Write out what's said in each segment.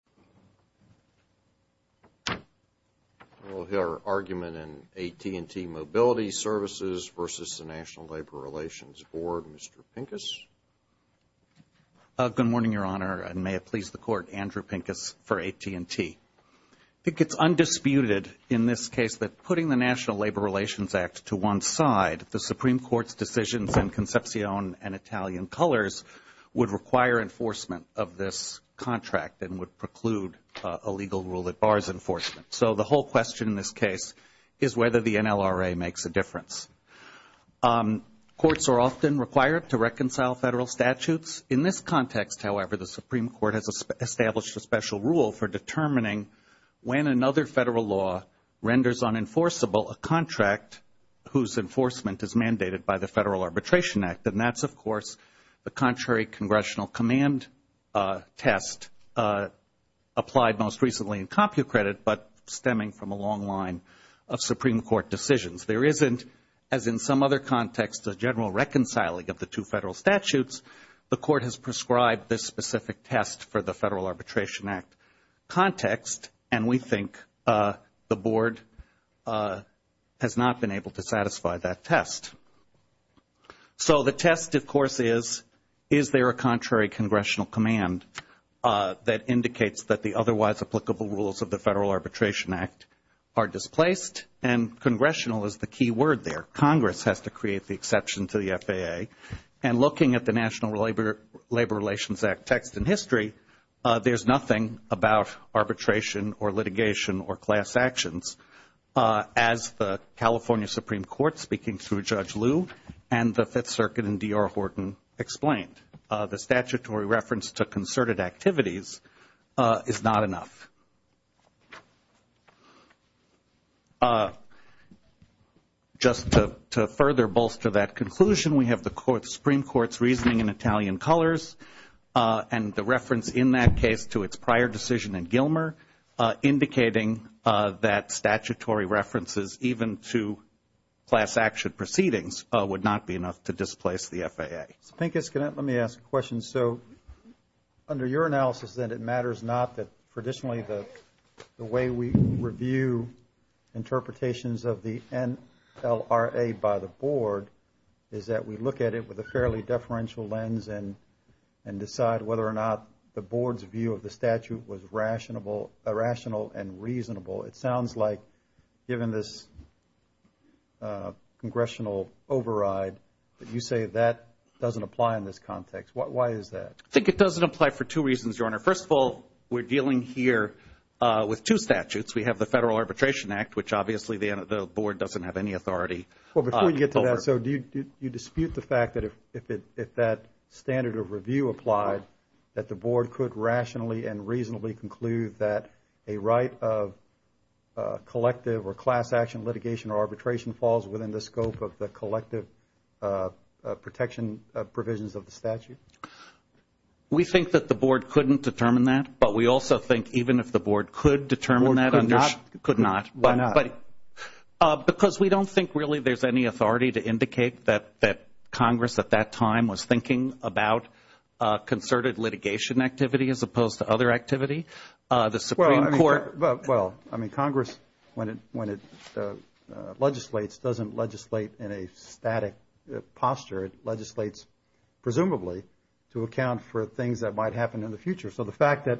Mr. Pincus. Good morning, Your Honor, and may it please the Court, Andrew Pincus for AT&T. I think it's undisputed in this case that putting the National Labor Relations Act to one side, the Supreme Court's decisions in Concepcion and Italian colors would require enforcement of this contract and would preclude a legal rule that bars enforcement. So the whole question in this case is whether the NLRA makes a difference. Courts are often required to reconcile federal statutes. In this context, however, the Supreme Court has established a special rule for determining when another federal law renders unenforceable a contract whose enforcement is mandated by the Federal Arbitration Act, and that's, of course, a congressional command test applied most recently in CompuCredit but stemming from a long line of Supreme Court decisions. There isn't, as in some other contexts, a general reconciling of the two federal statutes. The Court has prescribed this specific test for the Federal Arbitration Act context, and we think the Board has not been able to satisfy that test. So the test, of course, is, is there a contrary congressional command that indicates that the otherwise applicable rules of the Federal Arbitration Act are displaced? And congressional is the key word there. Congress has to create the exception to the FAA. And looking at the National Labor Relations Act text in history, there's nothing about arbitration or litigation or class actions as the California Supreme Court, speaking through Judge Liu and the Fifth Circuit and D.R. Horton explained. The statutory reference to concerted activities is not enough. Just to further bolster that conclusion, we have the Supreme Court's reasoning in Italian colors and the reference in that case to its prior decision in Gilmer, indicating that statutory references even to class action proceedings would not be enough to displace the FAA. Mr. Pincus, can I, let me ask a question. So under your analysis, then, it matters not that traditionally the way we review interpretations of the NLRA by the Board is that we look at it with a fairly deferential lens and decide whether or not the Board's view of the statute was rational and reasonable. It sounds like, given this congressional override, that you say that doesn't apply in this context. Why is that? I think it doesn't apply for two reasons, Your Honor. First of all, we're dealing here with two statutes. We have the Federal Arbitration Act, which obviously the Board doesn't have any authority over. Well, before you get to that, so do you dispute the fact that if that standard of review applied, that the Board could rationally and reasonably conclude that a right of collective or class action litigation or arbitration falls within the scope of the collective protection provisions of the statute? We think that the Board couldn't determine that, but we also think even if the Board could determine that under... Could not. Could not. Why not? Because we don't think really there's any authority to indicate that Congress at that time was thinking about concerted litigation activity as opposed to other activity. The Supreme Court... Well, I mean, Congress, when it legislates, doesn't legislate in a static posture. It legislates, presumably, to account for things that might happen in the future. So the fact that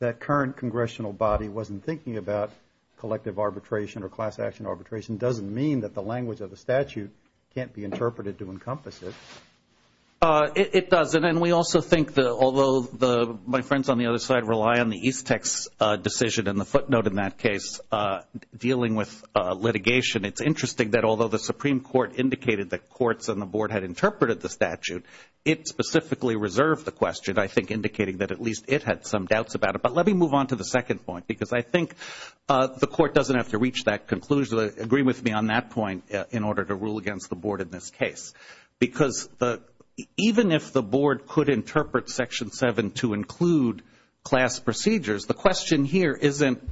that current Congressional body wasn't thinking about collective arbitration or class action arbitration doesn't mean that the language of the statute can't be interpreted to encompass it. It doesn't, and we also think that although my friends on the other side rely on the Eastex decision and the footnote in that case dealing with litigation, it's interesting that although the Supreme Court indicated that courts and the Board had interpreted the statute, it had some doubts about it. But let me move on to the second point, because I think the Court doesn't have to reach that conclusion, agree with me on that point, in order to rule against the Board in this case. Because even if the Board could interpret Section 7 to include class procedures, the question here isn't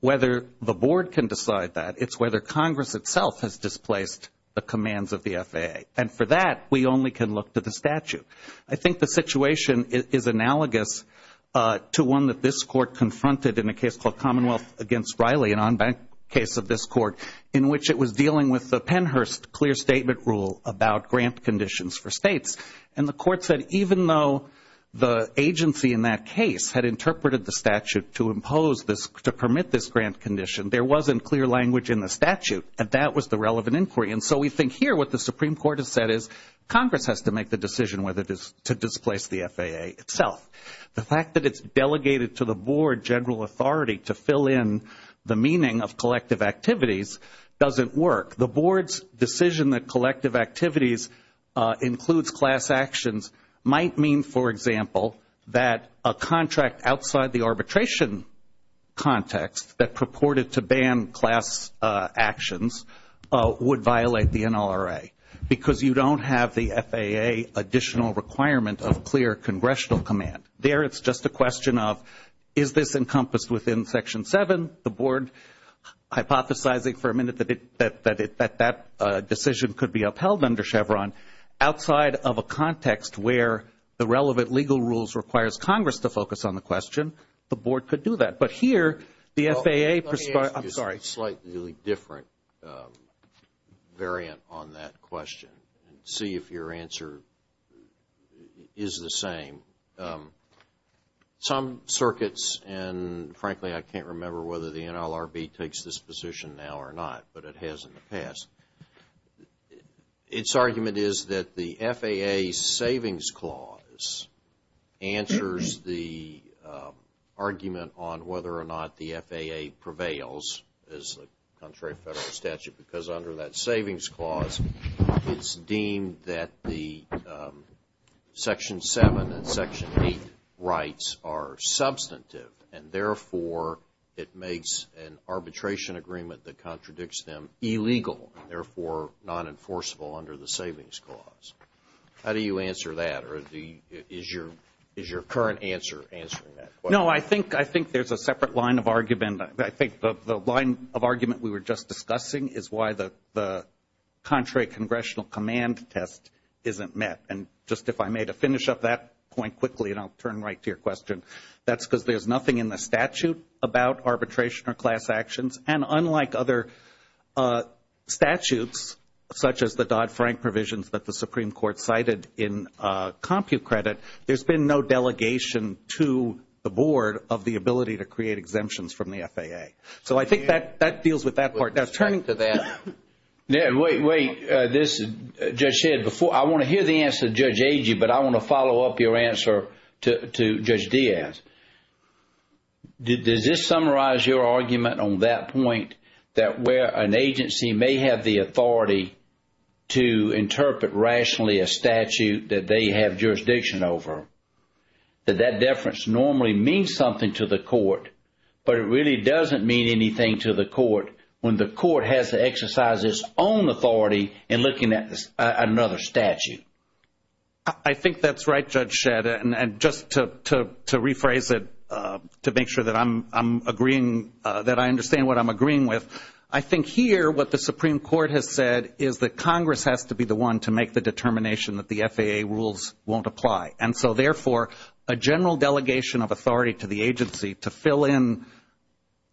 whether the Board can decide that. It's whether Congress itself has displaced the commands of the FAA. And for that, we only can look to the statute. I think the situation is analogous to one that this Court confronted in a case called Commonwealth against Riley, an en banc case of this Court, in which it was dealing with the Pennhurst clear statement rule about grant conditions for states. And the Court said even though the agency in that case had interpreted the statute to impose this, to permit this grant condition, there wasn't clear language in the statute, and that was the relevant inquiry. And so we think here what the Supreme Court has said is Congress has to make the decision to displace the FAA itself. The fact that it's delegated to the Board general authority to fill in the meaning of collective activities doesn't work. The Board's decision that collective activities includes class actions might mean, for example, that a contract outside the arbitration context that purported to ban class actions would violate the NLRA, because you don't have the FAA additional requirement of clear congressional command. There, it's just a question of, is this encompassed within Section 7? The Board hypothesizing for a minute that that decision could be upheld under Chevron outside of a context where the relevant legal rules requires Congress to focus on the question, the Board could do that. But here, the FAA perspires – I'm sorry – slightly different variant on that question. See if your answer is the same. Some circuits and frankly, I can't remember whether the NLRB takes this position now or not, but it has in the past. Its argument is that the FAA Savings Clause answers the argument on whether or not the FAA prevails as the contrary federal statute, because under that Savings Clause, it's deemed that the Section 7 and Section 8 rights are substantive, and therefore it makes an arbitration agreement that contradicts them illegal, and therefore non-enforceable under the Savings Clause. How do you answer that, or is your current answer answering that question? No, I think there's a separate line of argument. I think the line of argument we were just discussing is why the contrary congressional command test isn't met. And just if I may to finish up that point quickly, and I'll turn right to your question, that's because there's nothing in the statute about arbitration or class actions. And unlike other statutes, such as the Dodd-Frank provisions that the Supreme Court cited in CompuCredit, there's been no delegation to the Board of the ability to create exemptions from the FAA. So I think that deals with that part. Let's turn to that. Wait, wait. Judge Shedd, I want to hear the answer of Judge Agee, but I want to follow up your answer to Judge Diaz. Does this summarize your argument on that point, that where an agency may have the authority to interpret rationally a statute that they have jurisdiction over, that that deference normally means something to the court, but it really doesn't mean anything to the court when the court has to exercise its own authority in looking at another statute? I think that's right, Judge Shedd. And just to rephrase it to make sure that I'm agreeing, that I understand what I'm agreeing with, I think here what the Supreme Court has said is that Congress has to be the one to make the determination that the FAA rules won't apply. And so therefore, a general delegation of authority to the agency to fill in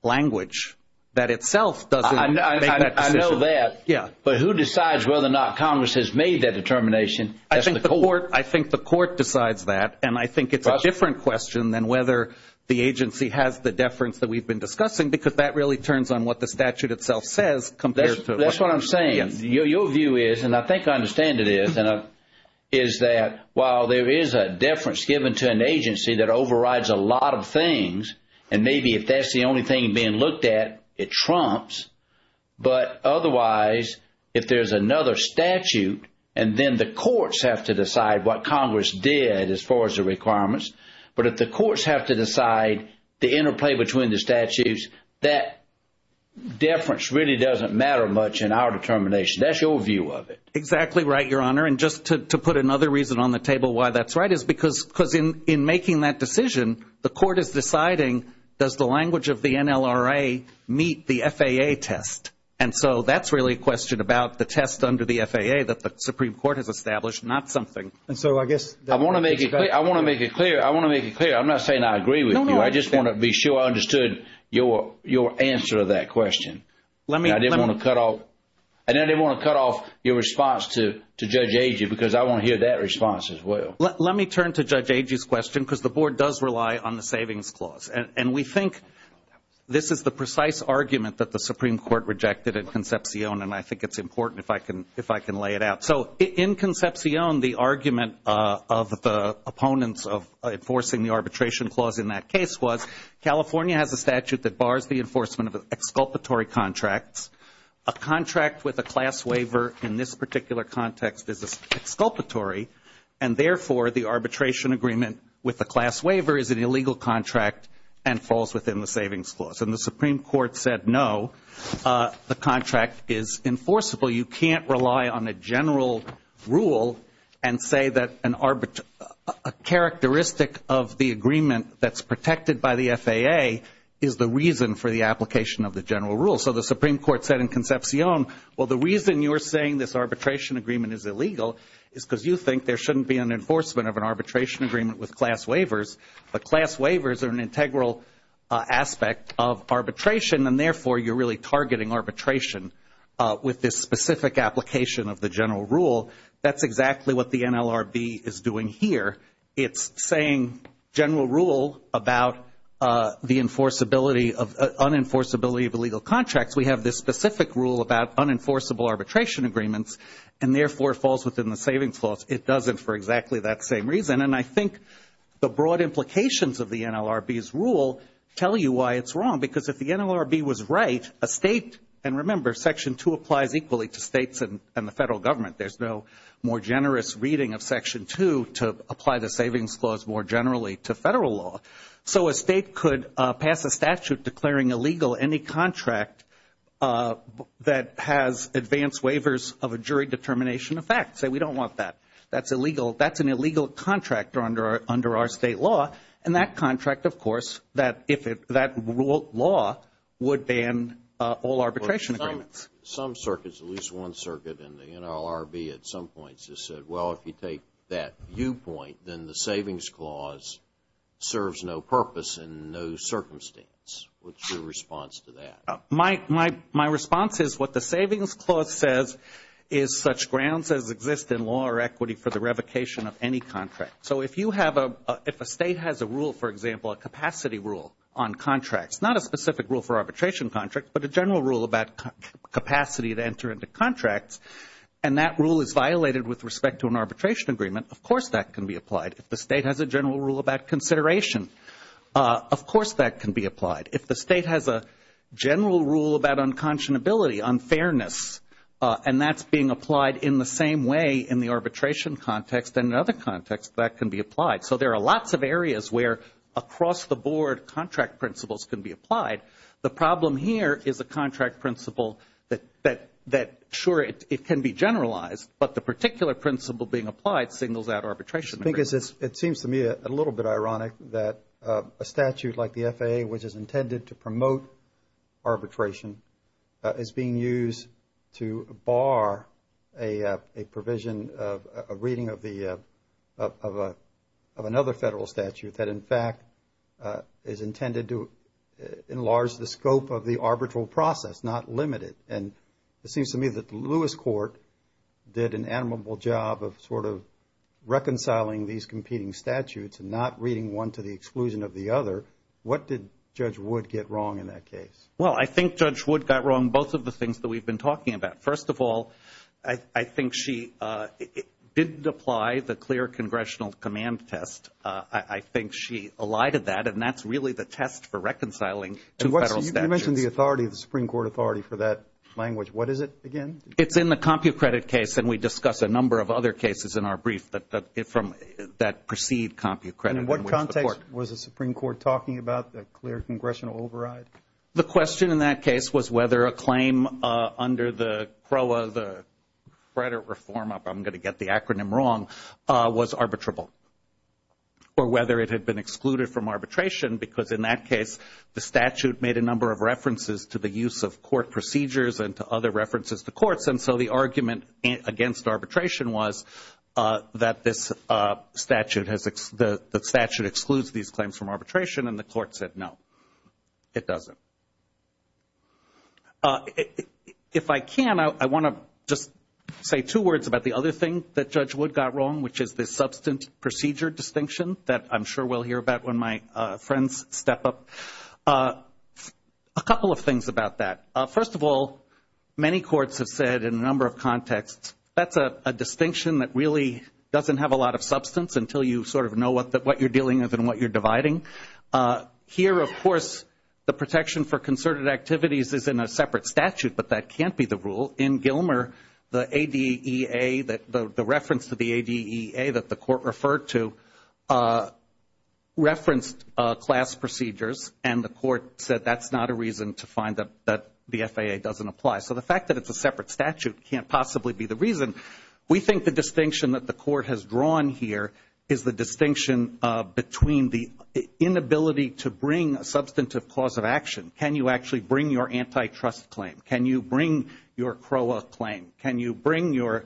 language, that itself doesn't make that decision. I know that. But who decides whether or not Congress has made that determination? I think the court decides that. And I think it's a different question than whether the agency has the deference that we've been discussing, because that really turns on what the statute itself says compared to what Congress says. Your view is, and I think I understand it is, is that while there is a deference given to an agency that overrides a lot of things, and maybe if that's the only thing being looked at, it trumps, but otherwise, if there's another statute, and then the courts have to decide what Congress did as far as the requirements, but if the courts have to decide the interplay between the statutes, that deference really doesn't matter much in our determination. That's your view of it. Exactly right, Your Honor. And just to put another reason on the table why that's right is because in making that decision, the court is deciding, does the language of the NLRA meet the FAA test? And so that's really a question about the test under the FAA that the Supreme Court has established, not something. And so I guess that makes sense. I want to make it clear. I want to make it clear. I'm not saying I agree with you. I just want to be sure I understood your answer to that question. I didn't want to cut off your response to Judge Agee, because I want to hear that response as well. Let me turn to Judge Agee's question, because the Board does rely on the Savings Clause. And we think this is the precise argument that the Supreme Court rejected in Concepcion, and I think it's important if I can lay it out. So in Concepcion, the argument of the Arbitration Clause in that case was, California has a statute that bars the enforcement of exculpatory contracts. A contract with a class waiver in this particular context is exculpatory, and therefore, the arbitration agreement with the class waiver is an illegal contract and falls within the Savings Clause. And the Supreme Court said, no, the contract is enforceable. You can't rely on a general rule and say that a characteristic of the agreement that's protected by the FAA is the reason for the application of the general rule. So the Supreme Court said in Concepcion, well, the reason you're saying this arbitration agreement is illegal is because you think there shouldn't be an enforcement of an arbitration agreement with class waivers. But class waivers are an integral aspect of arbitration, and therefore, you're really targeting arbitration with this specific application of the general rule. That's exactly what the NLRB is doing here. It's saying general rule about the unenforceability of illegal contracts. We have this specific rule about unenforceable arbitration agreements, and therefore, it falls within the Savings Clause. It doesn't for exactly that same reason. And I think the broad implications of the NLRB's rule tell you why it's wrong, because if the NLRB was right, a state, and remember, Section 2 applies equally to states and the federal government. There's no more generous reading of Section 2 to apply the Savings Clause more generally to federal law. So a state could pass a statute declaring illegal any contract that has advanced waivers of a jury determination of fact. Say, we don't want that. That's an illegal contract under our state law, and that contract, of course, that rule of law would ban all arbitration agreements. Some circuits, at least one circuit in the NLRB at some points has said, well, if you take that viewpoint, then the Savings Clause serves no purpose and no circumstance. What's your response to that? My response is what the Savings Clause says is such grounds as exist in law or equity for the revocation of any contract. So if you have a, if a state has a rule, for example, a capacity rule on contracts, not a specific rule for arbitration contracts, but a general rule about capacity to enter into contracts, and that rule is violated with respect to an arbitration agreement, of course that can be applied. If the state has a general rule about consideration, of course that can be applied. If the state has a general rule about consideration, of course that can be applied. So there are lots of areas where across-the-board contract principles can be applied. The problem here is a contract principle that, sure, it can be generalized, but the particular principle being applied signals that arbitration agreement. It seems to me a little bit ironic that a statute like the FAA, which is intended to promote arbitration, is being used to bar a provision, a reasonable provision, that is competing of the, of a, of another federal statute that, in fact, is intended to enlarge the scope of the arbitral process, not limit it. And it seems to me that the Lewis Court did an admirable job of sort of reconciling these competing statutes and not reading one to the exclusion of the other. What did Judge Wood get wrong in that case? Well, I think Judge Wood got wrong both of the things that we've been talking about. First of all, I think she didn't apply the clear congressional command test. I think she elided that, and that's really the test for reconciling two federal statutes. And you mentioned the authority of the Supreme Court authority for that language. What is it again? It's in the CompuCredit case, and we discuss a number of other cases in our brief that precede CompuCredit. In what context was the Supreme Court talking about the clear congressional override? The question in that case was whether a claim under the CROA, the credit reform, I'm going to get the acronym wrong, was arbitrable, or whether it had been excluded from arbitration, because in that case the statute made a number of references to the use of court procedures and to other references to courts. And so the argument against arbitration was that this statute has, the statute excludes these claims from arbitration, and the court said no, it doesn't. If I can, I want to just say two words about the other thing that Judge Wood got wrong, which is the substance procedure distinction that I'm sure we'll hear about when my friends step up. A couple of things about that. First of all, many courts have said in a number of contexts, that's a distinction that really doesn't have a lot of substance until you sort of know what you're dealing with and what you're dividing. Here, of course, the protection for concerted activities is in a separate statute, but that can't be the rule. In Gilmer, the ADEA, the reference to the ADEA that the court referred to, referenced class procedures, and the court said that's not a reason to find that the FAA doesn't apply. So the fact that it's a separate statute can't possibly be the reason. We think the distinction between the inability to bring a substantive cause of action, can you actually bring your antitrust claim? Can you bring your CROA claim? Can you bring your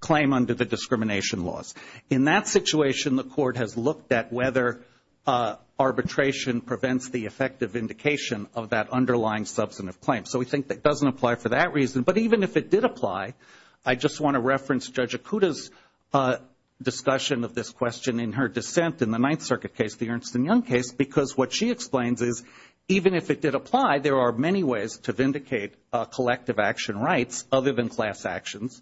claim under the discrimination laws? In that situation, the court has looked at whether arbitration prevents the effective indication of that underlying substantive claim. So we think that doesn't apply for that reason, but even if it did apply, I just want to reference Judge Akuta's discussion of this question in her dissent in the Ninth Circuit case, the Ernst and Young case, because what she explains is even if it did apply, there are many ways to vindicate collective action rights other than class actions,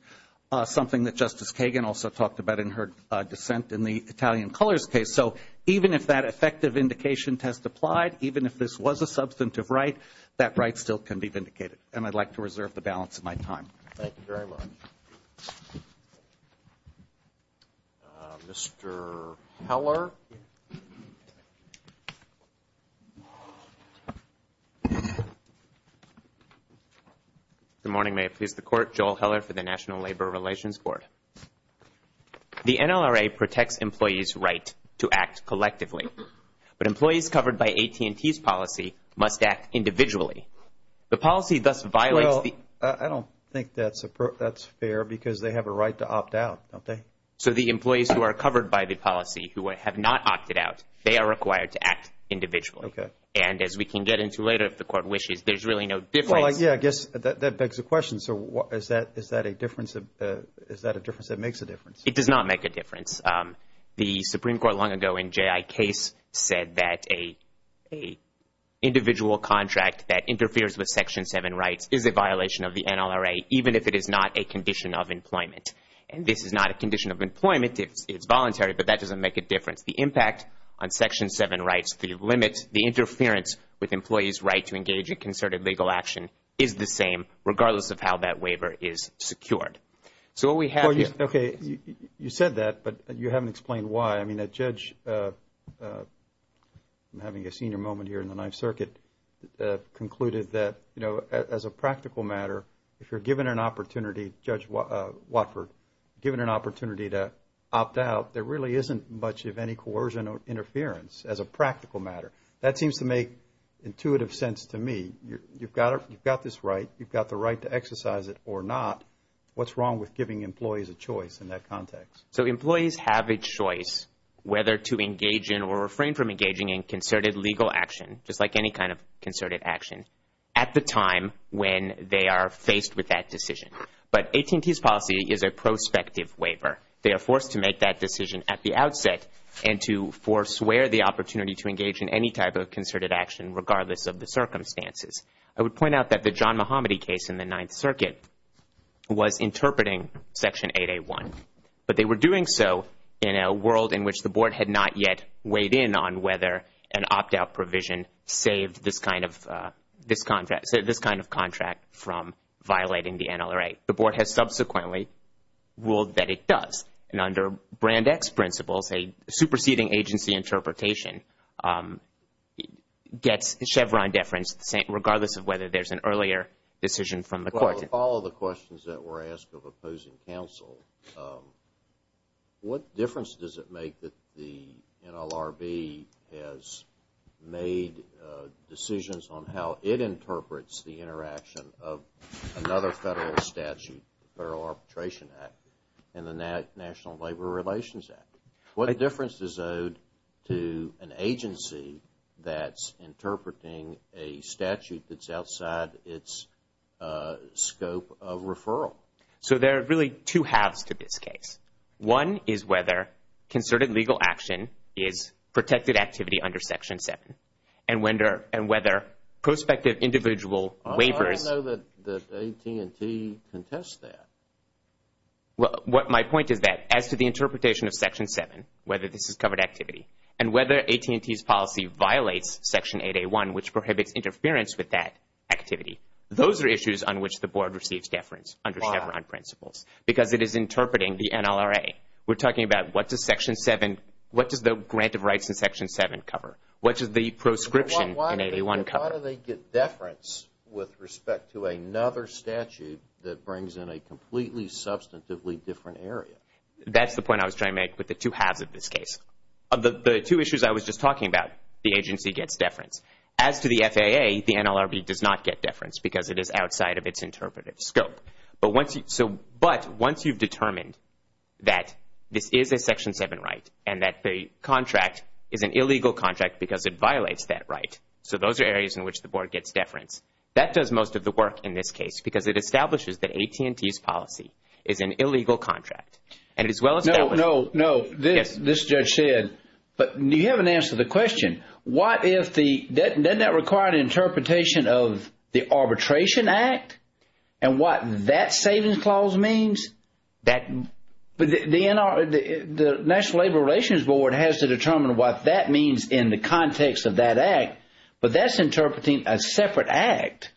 something that Justice Kagan also talked about in her dissent in the Italian Colors case. So even if that effective indication test applied, even if this was a substantive right, that right still can be vindicated. And I'd like to reserve the balance of my time. Thank you very much. Mr. Heller. Good morning. May it please the court, Joel Heller for the National Labor Relations Board. The NLRA protects employees' right to act collectively, but employees covered by AT&T's policy must act individually. The policy thus violates the... Well, I don't think that's fair because they have a right to opt out, don't they? So the employees who are covered by the policy who have not opted out, they are required to act individually. And as we can get into later, if the court wishes, there's really no difference... Well, yeah, I guess that begs the question. So is that a difference that makes a difference? It does not make a difference. The Supreme Court long ago in J.I. Case said that a individual contract that interferes with Section 7 rights is a violation of the NLRA even if it is not a condition of employment. And this is not a condition of employment. It's voluntary, but that doesn't make a difference. The impact on Section 7 rights, the limits, the interference with employees' right to engage in concerted legal action is the same regardless of how that waiver is secured. So what we have here... Okay, you said that, but you haven't explained why. I mean, the judge, I'm having a senior moment here in the Ninth Circuit, concluded that as a practical matter, if you're given an opportunity, Judge Watford, given an opportunity to opt out, there really isn't much of any coercion or interference as a practical matter. That seems to make intuitive sense to me. You've got this right. You've got the right to exercise it or not. What's wrong with giving employees a choice in that context? So employees have a choice whether to engage in or refrain from engaging in concerted legal action, just like any kind of concerted action, at the time when they are faced with that decision. But AT&T's policy is a prospective waiver. They are forced to make that decision at the outset and to forswear the opportunity to engage in any type of concerted action regardless of the circumstances. I would point out that the John Muhammadi case in the Ninth Circuit was interpreting Section 8A1, but they were doing so in a world in which the Board had not yet weighed in on whether an opt-out provision saved this kind of contract from violating the NLRA. The Board has subsequently ruled that it does. And under Brand X principles, a superseding agency interpretation gets Chevron deference regardless of whether there's an earlier decision from the court. Well, to follow the questions that were asked of opposing counsel, what difference does it make that the NLRB has made decisions on how it interprets the interaction of another jurisdictions act? What difference is owed to an agency that's interpreting a statute that's outside its scope of referral? So there are really two halves to this case. One is whether concerted legal action is protected activity under Section 7, and whether prospective individual waivers... I don't know that AT&T contests that. Well, my point is that as to the interpretation of Section 7, whether this is covered activity, and whether AT&T's policy violates Section 8A1, which prohibits interference with that activity, those are issues on which the Board receives deference under Chevron principles because it is interpreting the NLRA. We're talking about what does the grant of rights in Section 7 cover? What does the proscription in 8A1 cover? How do they get deference with respect to another statute that brings in a completely substantively different area? That's the point I was trying to make with the two halves of this case. The two issues I was just talking about, the agency gets deference. As to the FAA, the NLRB does not get deference because it is outside of its interpretive scope. But once you've determined that this is a Section 7 right, and that the contract is an illegal contract because it is in which the Board gets deference, that does most of the work in this case because it establishes that AT&T's policy is an illegal contract. And as well as that was- No, no, no. This judge said, but you haven't answered the question. What if the, doesn't that require an interpretation of the Arbitration Act and what that savings clause means? The National Labor Relations Board has to determine what that means in the context of that act. But that's interpreting a separate act.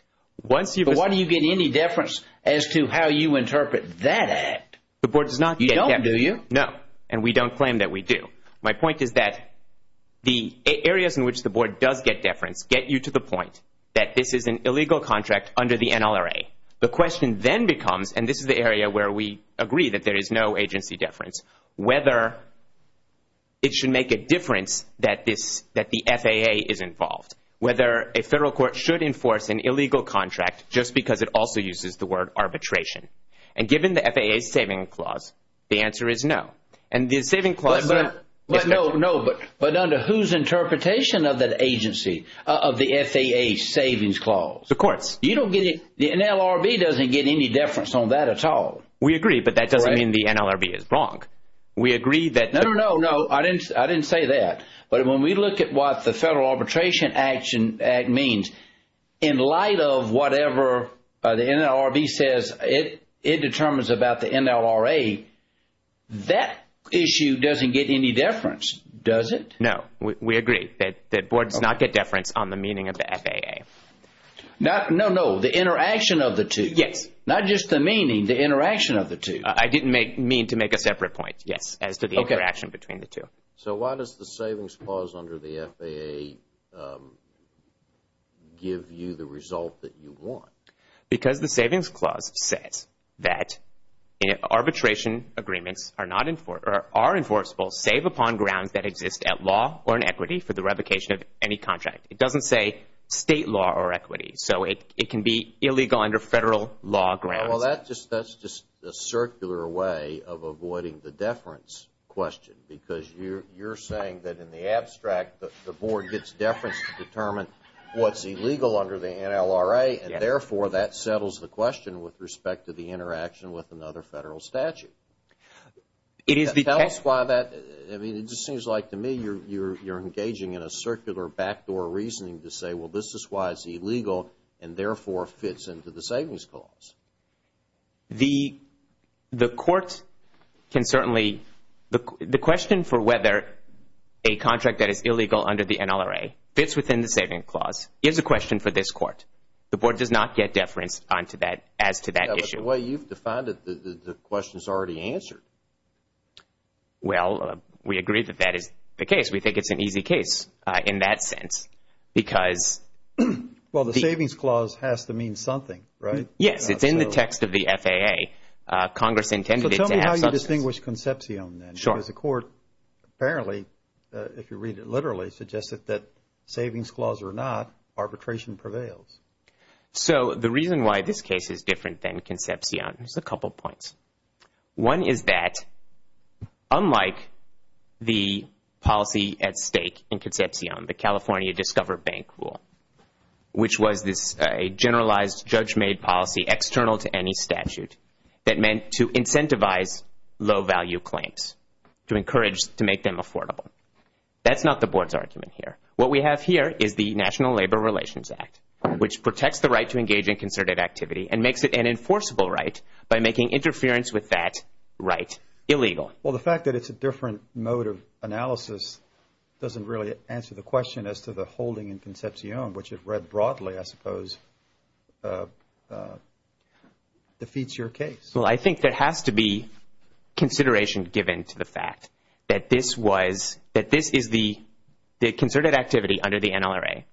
Once you've- But why do you get any deference as to how you interpret that act? The Board does not get deference. You don't, do you? No. And we don't claim that we do. My point is that the areas in which the Board does get deference get you to the point that this is an illegal contract under the NLRA. The question then becomes, and this is the area where we agree that there is no agency deference, whether it should make a difference that this, that the FAA is involved. Whether a federal court should enforce an illegal contract just because it also uses the word arbitration. And given the FAA's saving clause, the answer is no. And the saving clause- But, no, no, but under whose interpretation of that agency, of the FAA's savings clause? The court's. You don't get, the NLRB doesn't get any deference on that at all. We agree, but that doesn't mean the NLRB is wrong. We agree that- No, no, no, no. I didn't say that. But when we look at what the Federal Arbitration Act means in light of whatever the NLRB says it determines about the NLRA, that issue doesn't get any deference, does it? No. We agree that Boards not get deference on the meaning of the FAA. No, no, no. The interaction of the two. Yes. Not just the meaning, the interaction of the two. I didn't mean to make a separate point, yes, as to the interaction between the two. So why does the savings clause under the FAA give you the result that you want? Because the savings clause says that arbitration agreements are enforceable save upon grounds that exist at law or in equity for the revocation of any contract. It doesn't say state law or equity. So it can be illegal under Federal law grounds. Well, that's just a circular way of avoiding the deference question because you're saying that in the abstract the Board gets deference to determine what's illegal under the NLRA and therefore that settles the question with respect to the interaction with another Federal statute. It is the- Tell us why that- I mean, it just seems like to me you're engaging in a circular backdoor reasoning to say, well, this is why it's illegal and therefore fits into the savings clause. The court can certainly- the question for whether a contract that is illegal under the NLRA fits within the savings clause is a question for this Court. The Board does not get deference on to that as to that issue. But the way you've defined it, the question is already answered. Well, we agree that that is the case. We think it's an easy case in that sense because- Well, the savings clause has to mean something, right? Yes. It's in the text of the FAA. Congress intended it to have substance. So tell me how you distinguish Concepcion then? Sure. Because the Court apparently, if you read it literally, suggested that savings clause or not, arbitration prevails. So the reason why this case is different than Concepcion is a couple points. One is that unlike the policy at stake in Concepcion, the California Discover Bank Rule, which was this generalized, judge-made policy external to any statute that meant to incentivize low-value claims, to encourage, to make them affordable. That's not the Board's argument here. What we have here is the National Labor Relations Act, which protects the right to engage in concerted activity and makes it an enforceable right by making interference with that right illegal. Well, the fact that it's a different mode of analysis doesn't really answer the question as to the holding in Concepcion, which it read broadly, I suppose, defeats your case. Well, I think there has to be consideration given to the fact that this is the concerted activity under the NLRA,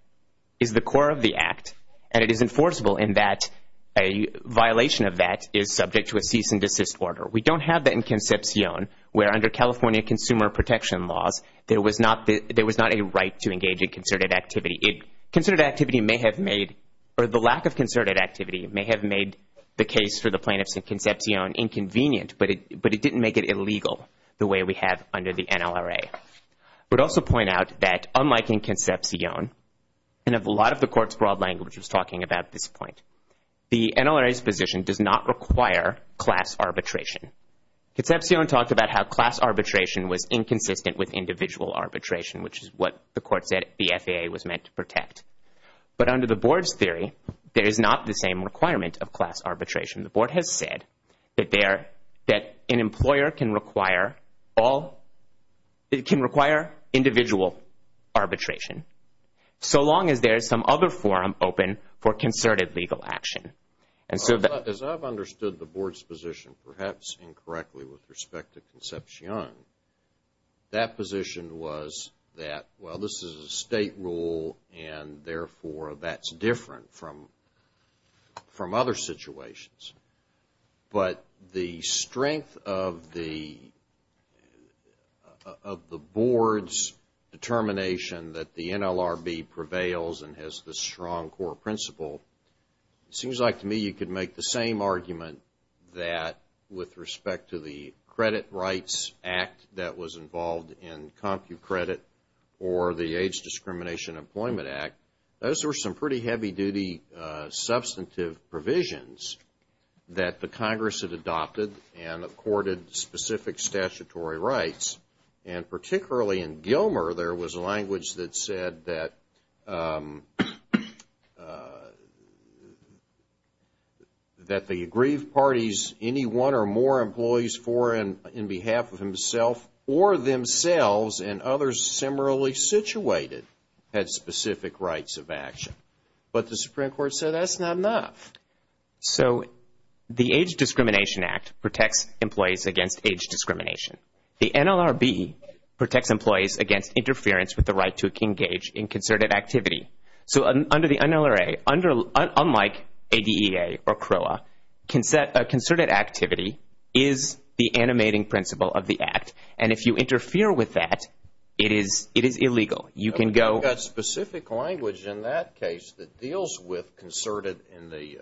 is the core of the Act, and it is enforceable in that a violation of that is subject to a cease and desist order. We don't have that in Concepcion, where under California consumer protection laws, there was not a right to engage in concerted activity. Concerted activity may have made, or the lack of concerted activity may have made the case for the plaintiffs in Concepcion inconvenient, but it didn't make it illegal the way we have under the NLRA. I would also point out that unlike in Concepcion, and a lot of the Court's broad language was talking about this point, the NLRA's position does not require class arbitration. Concepcion talked about how class arbitration was inconsistent with individual arbitration, which is what the Court said the FAA was meant to protect. But under the Board's theory, there is not the same requirement of class arbitration. The Board has said that an employer can require individual arbitration, so long as there is some other forum open for concerted legal action. As I've understood the Board's position, perhaps incorrectly with respect to Concepcion, that position was that, well, this is a State rule, and therefore that's different from other situations. But the strength of the Board's determination that the NLRB prevails and has this strong core principle, it seems like to me you could make the same argument that with respect to the Credit Rights Act that was involved in CompuCredit or the Age Discrimination Employment Act, those were some pretty heavy-duty substantive provisions that the Congress had adopted and accorded specific statutory rights. And particularly in Gilmer, there was language that said that the aggrieved parties, any one or more employees for and in behalf of himself or themselves and others similarly situated, had specific rights of action. But the Supreme Court said that's not enough. So the Age Discrimination Act protects employees against age discrimination. The NLRB protects employees against interference with the right to engage in concerted activity. So under the NLRA, unlike ADEA or CROA, concerted activity is the animating principle of the Act. And if you interfere with that, it is illegal. You can go- But we've got specific language in that case that deals with concerted, in the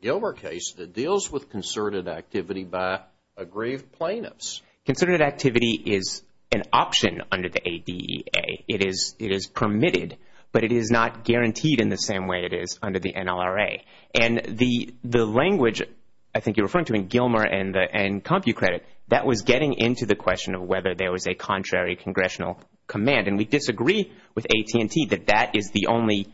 Gilmer case, that deals with concerted activity by aggrieved plaintiffs. Concerted activity is an option under the ADEA. It is permitted, but it is not guaranteed in the same way it is under the NLRA. And the language, I think you're referring to in Gilmer and CompuCredit, that was getting into the question of whether there was a contrary congressional command. And we disagree with AT&T that that is the only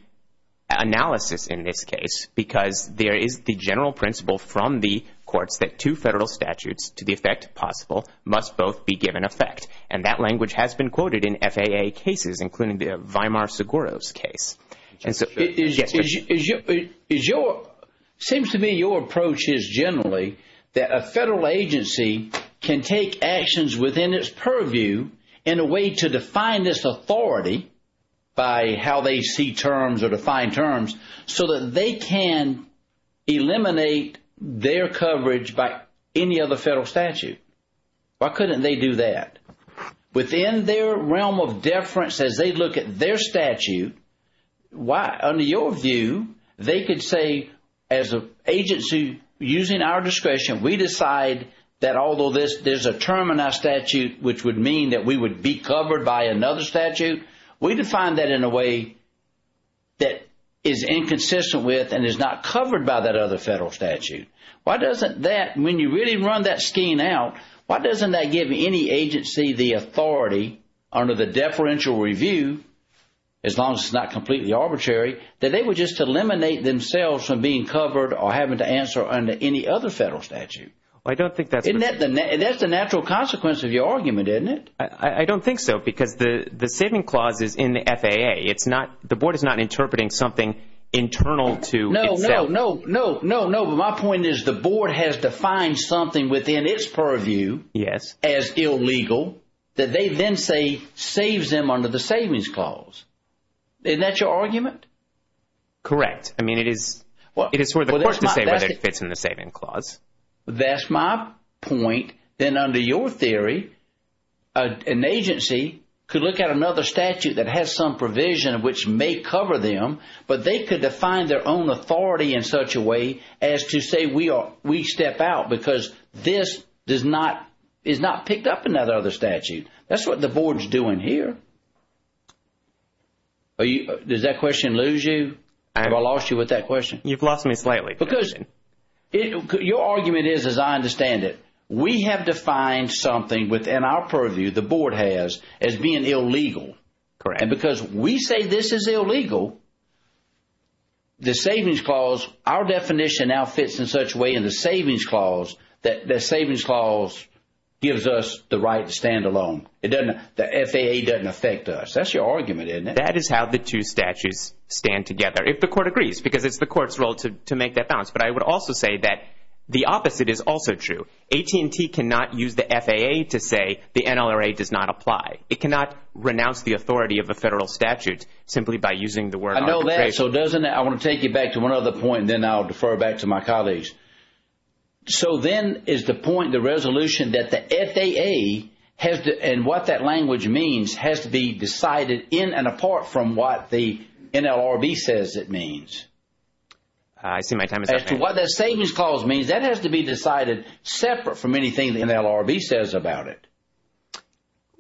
analysis in this case because there is the general principle from the courts that two federal statutes to the effect possible must both be given effect. And that language has been quoted in FAA cases, including the Weimar-Seguros case. And so it seems to me your approach is generally that a federal agency can take actions within its purview in a way to define this authority by how they see terms or define terms so that they can eliminate their coverage by any other federal statute. Why couldn't they do that? Within their realm of deference as they look at their statute, under your view, they could say as an agency using our discretion, we decide that although there's a term in our statute which would mean that we would be covered by another statute, we define that in a way that is inconsistent with and is not covered by that other federal statute. Why doesn't that, when you really run that scheme out, why doesn't that give any agency the authority under the deferential review, as long as it's not completely arbitrary, that they were just to eliminate themselves from being covered or having to answer under any other federal statute? I don't think that's the... Isn't that the natural consequence of your argument, isn't it? I don't think so, because the saving clause is in the FAA. It's not, the board is not interpreting something internal to itself. No, no, no, no, no, but my point is the board has defined something within its purview as illegal that they then say saves them under the savings clause. Isn't that your argument? Correct. I mean, it is sort of the court to say whether it fits in the saving clause. That's my point. Then under your theory, an agency could look at another statute that has some provision which may cover them, but they could define their own authority in such a way as to say we step out because this is not picked up in that other statute. That's what the board is doing here. Does that question lose you? Have I lost you with that question? You've lost me slightly. Because your argument is, as I understand it, we have defined something within our purview, the board has, as being illegal. And because we say this is illegal, the savings clause, our definition now fits in such a way in the savings clause that the savings clause gives us the right to stand alone. The FAA doesn't affect us. That's your argument, isn't it? That is how the two statutes stand together, if the court agrees, because it's the court's role to make that balance. But I would also say that the opposite is also true. AT&T cannot use the FAA to say the NLRA does not apply. It cannot renounce the authority of a federal statute simply by using the word arbitration. I know that. So doesn't it? I want to take you back to one other point, and then I'll defer back to my colleagues. So then is the point, the resolution, that the FAA and what that language means has to be decided in and apart from what the NLRB says it means? I see my time is up. As to what that savings clause means, that has to be decided separate from anything the NLRB says about it,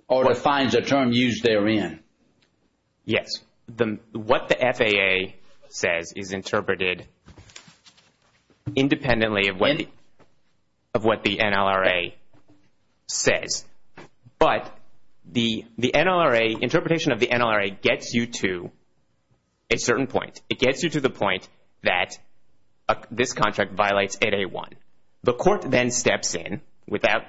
or defines a term used therein. Yes. What the FAA says is interpreted independently of what the NLRA says. But the NLRB does not The NLRA, interpretation of the NLRA gets you to a certain point. It gets you to the point that this contract violates 8A1. The court then steps in,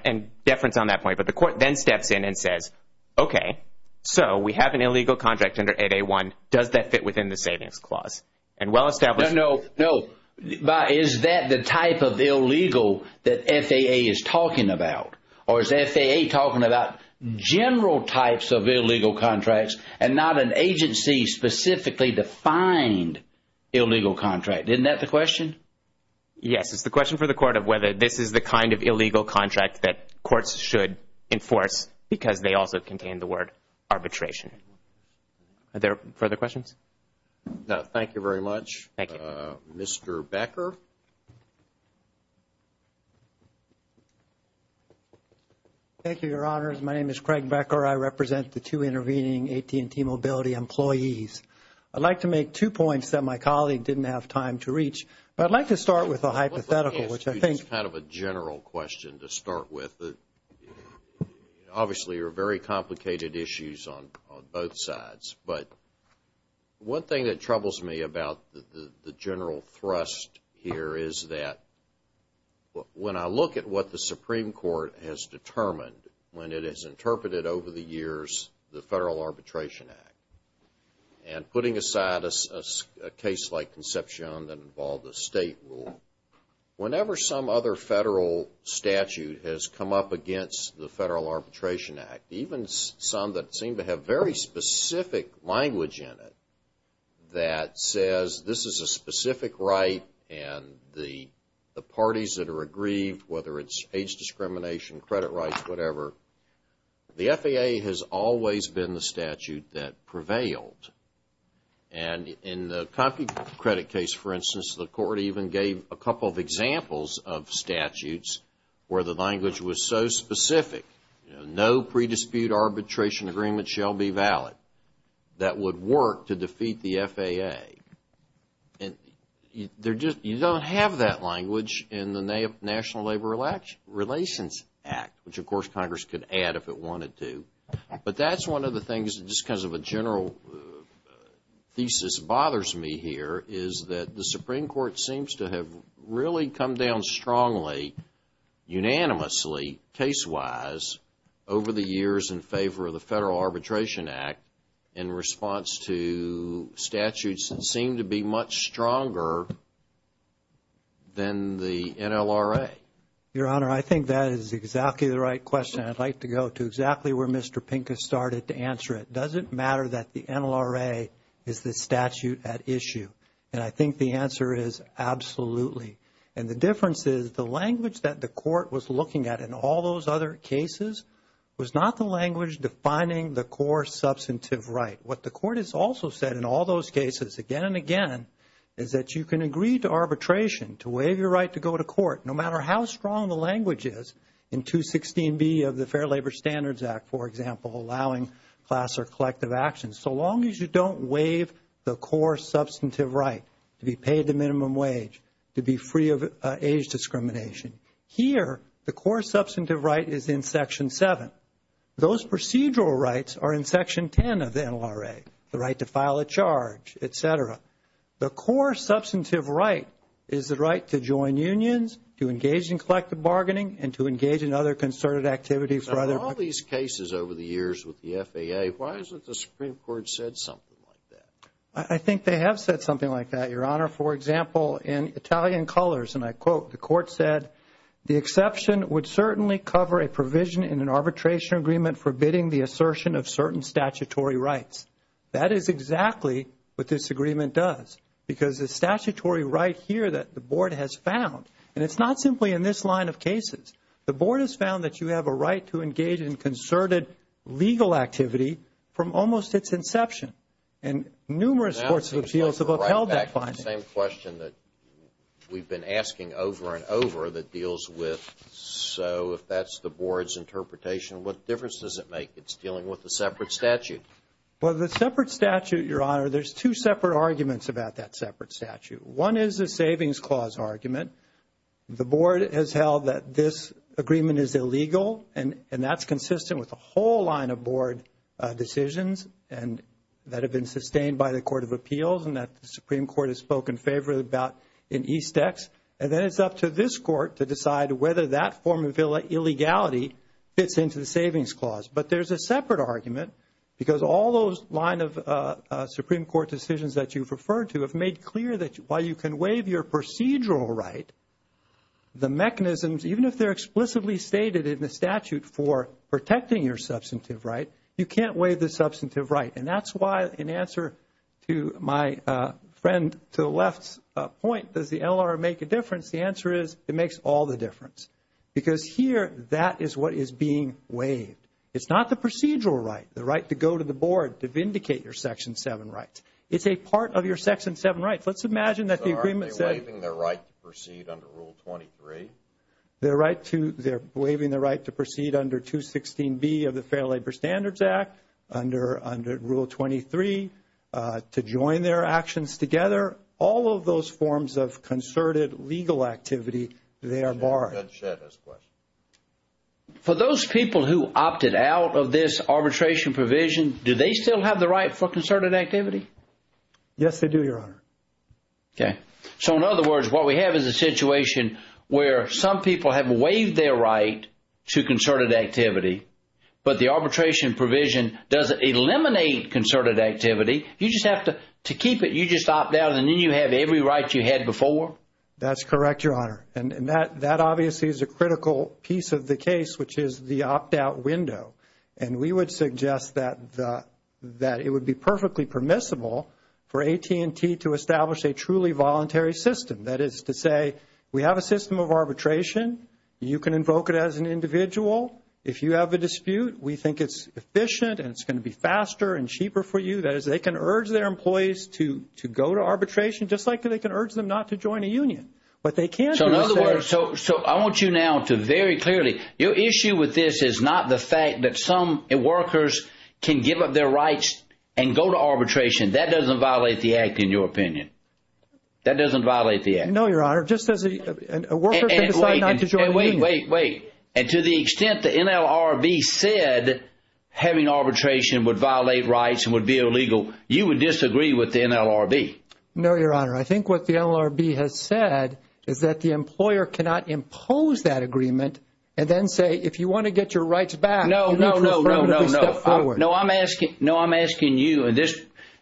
and deference on that point, but the court then steps in and says, okay, so we have an illegal contract under 8A1. Does that fit within the savings clause? And well established No, no. Is that the type of illegal that FAA is talking about? Or is FAA talking about general types of illegal contracts and not an agency specifically defined illegal contract? Isn't that the question? Yes. It's the question for the court of whether this is the kind of illegal contract that courts should enforce because they also contain the word arbitration. Are there further questions? Thank you very much. Mr. Becker. Thank you, Your Honors. My name is Craig Becker. I represent the two intervening AT&T Mobility employees. I'd like to make two points that my colleague didn't have time to reach, but I'd like to start with a hypothetical, which I think Let me ask you just kind of a general question to start with. Obviously, there are very complicated issues on both sides, but one thing that troubles me about the general thrust in the debate here is that when I look at what the Supreme Court has determined when it has interpreted over the years the Federal Arbitration Act and putting aside a case like Conception that involved a state rule, whenever some other federal statute has come up against the Federal Arbitration Act, even some that seem to have very specific language in it that says this is a specific right and the parties that are aggrieved, whether it's age discrimination, credit rights, whatever, the FAA has always been the statute that prevailed. And in the CompuCredit case, for instance, the court even gave a couple of examples of statutes where the language was so specific, no pre-dispute arbitration agreement shall be valid, that would work to defeat the FAA. And you don't have that language in the National Labor Relations Act, which of course Congress could add if it wanted to. But that's one of the things that just because of a general thesis bothers me here is that the Supreme Court seems to have really come down strongly, unanimously, case-wise over the years in favor of the Federal Arbitration Act in response to statutes that seem to be much stronger than the NLRA. Your Honor, I think that is exactly the right question. I'd like to go to exactly where Mr. Pincus started to answer it. Does it matter that the NLRA is the statute at issue? And I think the answer is absolutely. And the difference is the language that the court was looking at in all those other cases was not the language defining the core substantive right. What the court has also said in all those cases again and again is that you can agree to arbitration, to waive your right to go to court, no matter how strong the language is in 216B of the Fair Labor Standards Act, for example, allowing class or collective action. So long as you don't waive the core substantive right to be paid the minimum wage, to be free of age discrimination. Here, the core substantive right is in Section 7. Those procedural rights are in Section 10 of the NLRA, the right to file a charge, et cetera. The core substantive right is the right to join unions, to engage in collective bargaining, and to engage in other concerted activities for other parties. Now, of all these cases over the years with the FAA, why hasn't the Supreme Court said something like that? I think they have said something like that, Your Honor. For example, in Italian Colors, and I quote, the court said, the exception would certainly cover a provision in an arbitration agreement forbidding the assertion of certain statutory rights. That is exactly what this agreement does. Because the statutory right here that the Board has found, and it's not simply in this line of cases, the Board has found that you have a right to engage in concerted legal activity from almost its inception. And numerous courts of appeals have upheld Now it seems like we're right back to the same question that we've been asking over and over that deals with, so if that's the Board's interpretation, what difference does it make? It's dealing with a separate statute. Well, the separate statute, Your Honor, there's two separate arguments about that separate statute. One is the Savings Clause argument. The Board has held that this agreement is in favor of Board decisions and that have been sustained by the Court of Appeals and that the Supreme Court has spoken favorably about in East Ex. And then it's up to this Court to decide whether that form of illegality fits into the Savings Clause. But there's a separate argument because all those line of Supreme Court decisions that you've referred to have made clear that while you can waive your procedural right, the mechanisms, even if they're explicitly stated in the statute for protecting your substantive right, you can't waive the substantive right. And that's why in answer to my friend to the left's point, does the NLR make a difference? The answer is it makes all the difference. Because here, that is what is being waived. It's not the procedural right, the right to go to the Board to vindicate your Section 7 rights. It's a part of your Section 7 rights. Let's imagine that the agreement said So aren't they waiving their right to proceed under Rule 23? They're waiving their right to proceed under 216B of the Fair Labor Standards Act, under Rule 23, to join their actions together. All of those forms of concerted legal activity, they are barred. Judge Shedd has a question. For those people who opted out of this arbitration provision, do they still have the right for concerted activity? Yes, they do, Your Honor. Okay. So in other words, what we have is a situation where some people have waived their right to concerted activity, but the arbitration provision doesn't eliminate concerted activity. You just have to keep it. You just opt out, and then you have every right you had before. That's correct, Your Honor. And that obviously is a critical piece of the case, which is the opt-out window. And we would suggest that it would be perfectly permissible for AT&T to establish a truly voluntary system. That is to say, we have a system of arbitration. You can invoke it as an individual. If you have a dispute, we think it's efficient, and it's going to be faster and cheaper for you. That is, they can urge their employees to go to arbitration, just like they can urge them not to join a union. But they can't do it. So in other words, I want you now to very clearly, your issue with this is not the fact that some workers can give up their rights and go to arbitration. That doesn't violate the Act, in your opinion. That doesn't violate the Act. No, Your Honor. Just as a worker can decide not to join a union. Wait, wait, wait. And to the extent the NLRB said having arbitration would violate rights and would be illegal, you would disagree with the NLRB? No, Your Honor. I think what the NLRB has said is that the employer cannot impose that agreement and then say, if you want to get your rights back, you need to step forward. No, no, no, no, no. No, I'm asking you, and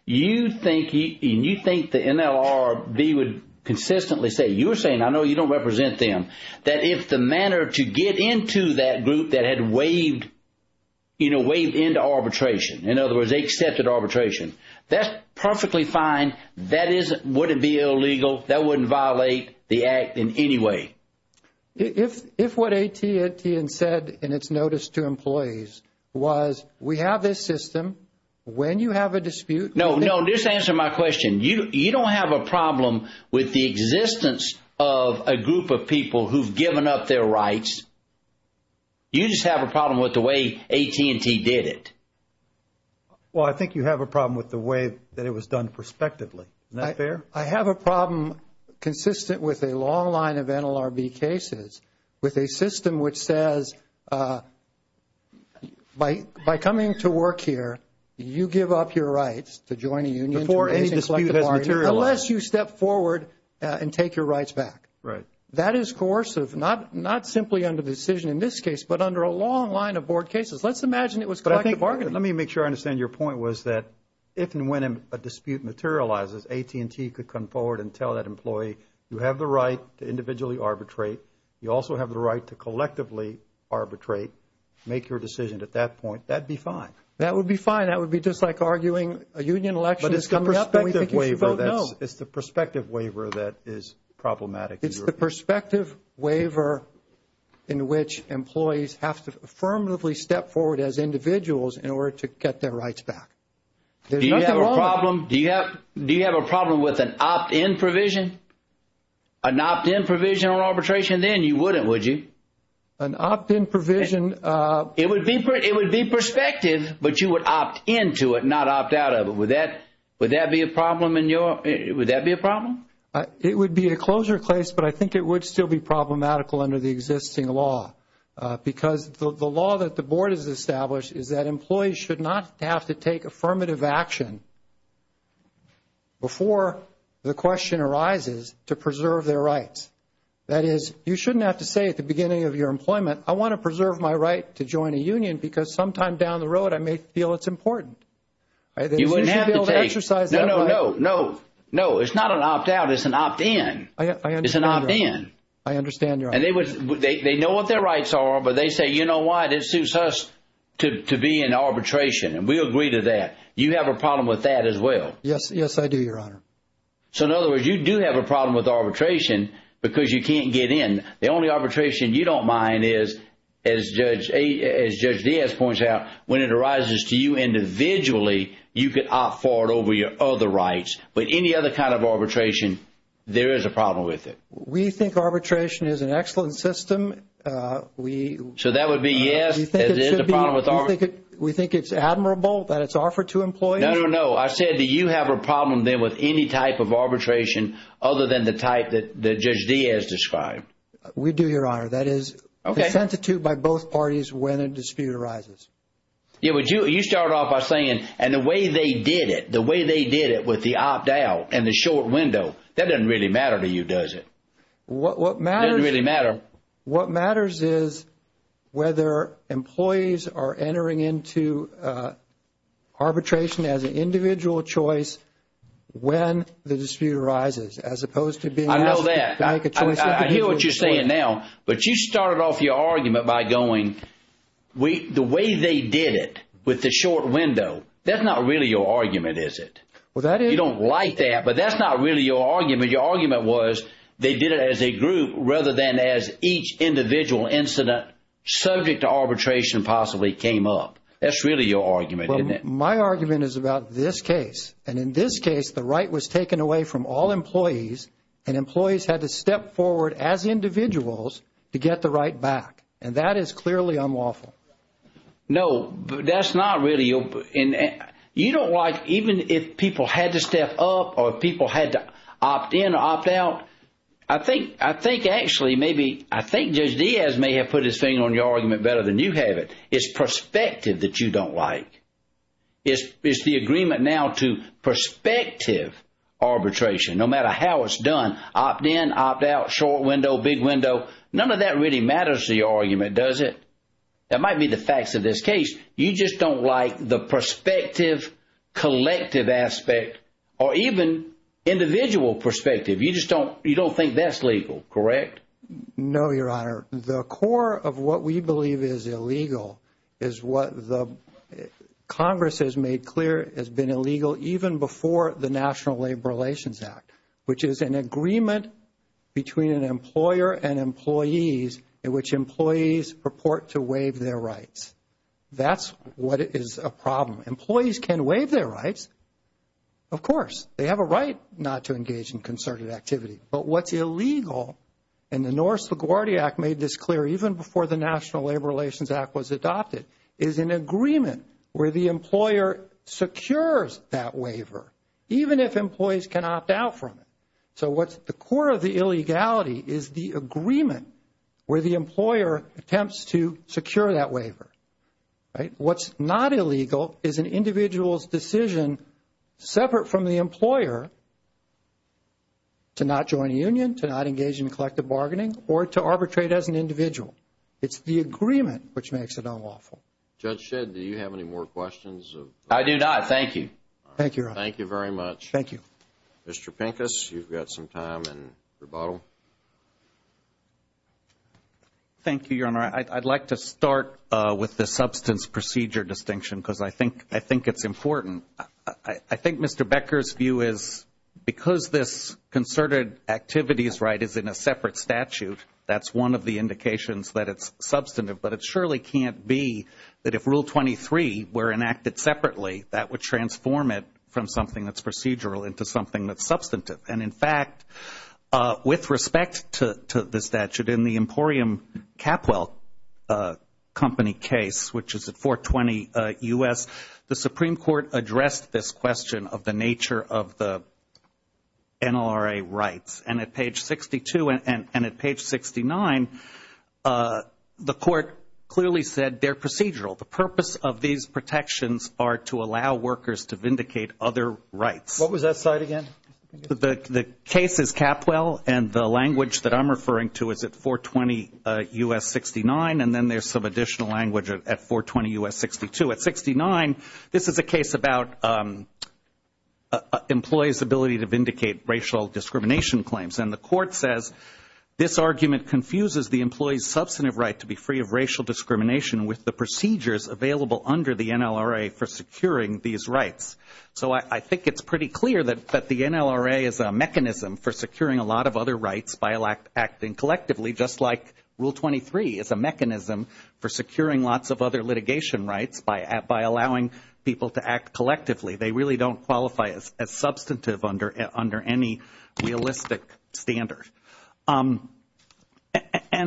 you think the NLRB would consistently say, you were saying, I know you don't represent them, that if the manner to get into that group that had waived, you know, waived into arbitration, in other words, they accepted arbitration, that's perfectly fine. That is, would it be illegal? That wouldn't violate the Act in any way. If what AT&T had said in its notice to employees was, we have this system, when you have a dispute. No, no, just answer my question. You don't have a problem with the existence of a group of people who've given up their rights. You just have a problem with the way AT&T did it. Well, I think you have a problem with the way that it was done prospectively. Isn't that fair? I have a problem consistent with a long line of NLRB cases with a system which says, by coming to work here, you give up your rights to join a union, to raise and collect the bargaining, unless you step forward and take your rights back. Right. That is coercive, not simply under decision in this case, but under a long line of board cases. Let's imagine it was collective bargaining. Let me make sure I understand your point was that if and when a dispute materializes, AT&T could come forward and tell that employee, you have the right to individually arbitrate. You also have the right to collectively arbitrate. Make your decision at that point. That would be fine. That would be fine. That would be just like arguing a union election is coming up and we think you should vote no. It's the prospective waiver that is problematic. It's the prospective waiver in which employees have to affirmatively step forward as individuals in order to get their rights back. Do you have a problem with an opt-in provision? An opt-in provision on arbitration? Then you wouldn't, would you? An opt-in provision? It would be prospective, but you would opt into it, not opt out of it. Would that be a problem? It would be a closure case, but I think it would still be problematical under the existing law because the law that the board has established is that employees should not have to take affirmative action before the question arises to preserve their rights. That is, you shouldn't have to say at the beginning of your employment, I want to preserve my right to join a union because sometime down the road, I may feel it's important. You wouldn't have to take. No, no, no. It's not an opt-out. It's an opt-in. It's an opt-in. I understand, Your Honor. They know what their rights are, but they say, you know what? It suits us to be in arbitration. We agree to that. You have a problem with that as well? Yes, I do, Your Honor. In other words, you do have a problem with arbitration because you can't get in. The only arbitration you don't mind is, as Judge Diaz points out, when it arises to you individually, you could opt for it over your other rights, but any other kind of arbitration, there is a problem with it. We think arbitration is an excellent system. So that would be yes, as is the problem with arbitration? We think it's admirable that it's offered to employees. No, no, no. I said, do you have a problem then with any type of arbitration other than the type that Judge Diaz described? We do, Your Honor. That is, it's sent to two by both parties when a dispute arises. Yeah, but you start off by saying, and the way they did it, the way they did it with the opt-out and the short window, that doesn't really matter to you, does it? What matters is whether employees are entering into arbitration as an individual choice when the dispute arises, as opposed to being asked to make a choice with the individual choice. I know that. I hear what you're saying now, but you started off your argument by going, the way they did it with the short window, that's not really your argument, is it? You don't like that, but that's not really your argument. Your argument was they did it as a group rather than as each individual incident subject to arbitration possibly came up. That's really your argument, isn't it? My argument is about this case. And in this case, the right was taken away from all employees and employees had to step forward as individuals to get the right back. And that is clearly unlawful. No, that's not really your, you don't like, even if people had to step up or people had to opt-in or opt-out, I think actually maybe, I think Judge Diaz may have put his finger on your argument better than you have it. It's perspective that you don't like. It's the agreement now to perspective arbitration, no matter how it's done, opt-in, opt-out, short window, big window, none of that really matters to your argument, does it? That might be the facts of this case. You just don't like the perspective, collective aspect, or even individual perspective. You just don't, you don't think that's legal, correct? No, Your Honor. The core of what we believe is illegal is what the Congress has made clear has been illegal even before the National Labor Relations Act, which is an agreement between an employer and employees in which employees purport to waive their rights. That's what is a problem. Employees can waive their rights, of course. They have a right not to engage in concerted activity. But what's illegal, and the Norris LaGuardia Act made this clear even before the National Labor Relations Act was adopted, is an agreement where the employer secures that waiver, even if employees can opt out from it. So what's the core of the illegality is the agreement where the employer attempts to secure that waiver, right? What's not illegal is an individual's decision separate from the employer to not join a union, to not engage in collective bargaining, or to arbitrate as an individual. It's the agreement which makes it all awful. Judge Shedd, do you have any more questions? I do not, thank you. Thank you, Your Honor. Thank you very much. Thank you. Mr. Pincus, you've got some time in rebuttal. Thank you, Your Honor. I'd like to start with the substance procedure distinction because I think it's important. I think Mr. Becker's view is because this concerted activity is in a separate statute, that's one of the indications that it's substantive, but it surely can't be that if Rule 23 were enacted separately, that would transform it from something that's procedural into something that's substantive. And in fact, with respect to the statute in the Emporium Capwell Company case, which is at 420 U.S., the Supreme Court addressed this question of the nature of the NLRA rights. And at page 62 and at page 69, the court clearly said they're procedural. The purpose of these protections are to allow workers to vindicate other rights. What was that slide again? The case is Capwell, and the language that I'm referring to is at 420 U.S. 69, and then there's some additional language at 420 U.S. 62. At 69, this is a case about employees' ability to vindicate the employee's substantive right to be free of racial discrimination with the procedures available under the NLRA for securing these rights. So I think it's pretty clear that the NLRA is a mechanism for securing a lot of other rights by acting collectively, just like Rule 23 is a mechanism for securing lots of other litigation rights by allowing people to act collectively. They really don't qualify as substantive under any realistic standard. And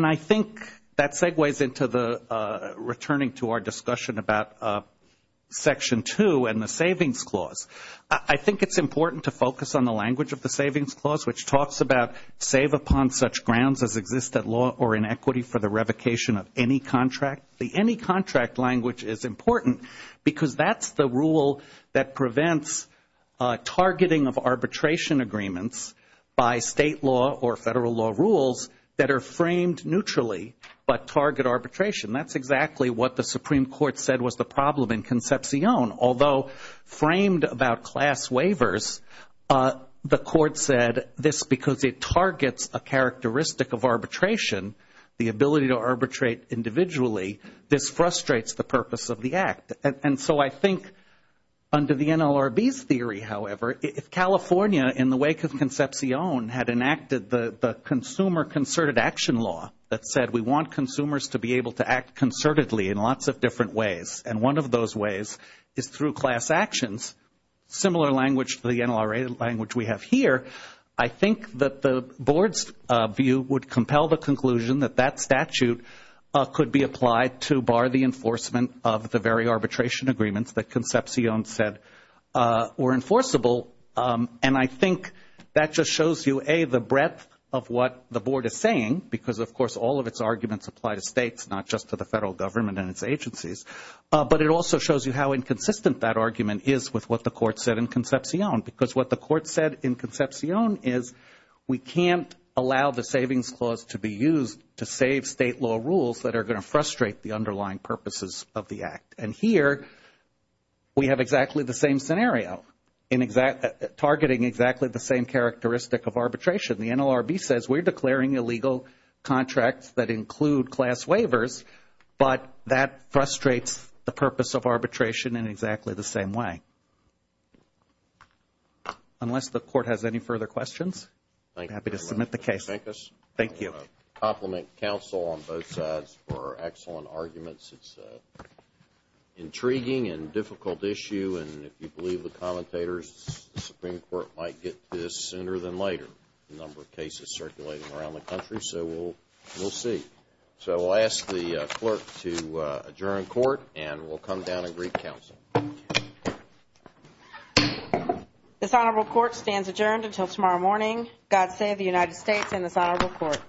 I think that segues into the returning to our discussion about Section 2 and the Savings Clause. I think it's important to focus on the language of the Savings Clause, which talks about save upon such grounds as exist at law or in equity for the revocation of any contract. The any contract language is important because that's the rule that prevents targeting of arbitration agreements by state law or federal law rules that are neutral, but target arbitration. That's exactly what the Supreme Court said was the problem in Concepcion. Although framed about class waivers, the Court said this because it targets a characteristic of arbitration, the ability to arbitrate individually, this frustrates the purpose of the act. And so I think under the NLRB's theory, however, if California in the wake of Concepcion had enacted the consumer concerted action law that said we want consumers to be able to act concertedly in lots of different ways, and one of those ways is through class actions, similar language to the NLRA language we have here, I think that the Board's view would compel the conclusion that that statute could be applied to bar the enforcement of the very arbitration agreements that Concepcion said were enforceable. And I think that just shows you, A, the breadth of what the Board is saying because, of course, all of its arguments apply to states, not just to the federal government and its agencies. But it also shows you how inconsistent that argument is with what the Court said in Concepcion because what the Court said in Concepcion is we can't allow the savings clause to be used to save state law rules that are going to frustrate the underlying purposes of the exactly the same characteristic of arbitration. The NLRB says we're declaring illegal contracts that include class waivers, but that frustrates the purpose of arbitration in exactly the same way. Unless the Court has any further questions, I'm happy to submit the case. Thank you. I want to compliment counsel on both sides for excellent arguments. It's an intriguing and difficult issue, and if you believe the commentators, the Supreme Court might get to this sooner than later, the number of cases circulating around the country. So we'll see. So I'll ask the clerk to adjourn court, and we'll come down and greet counsel. This Honorable Court stands adjourned until tomorrow morning. God save the United States and this Honorable Court.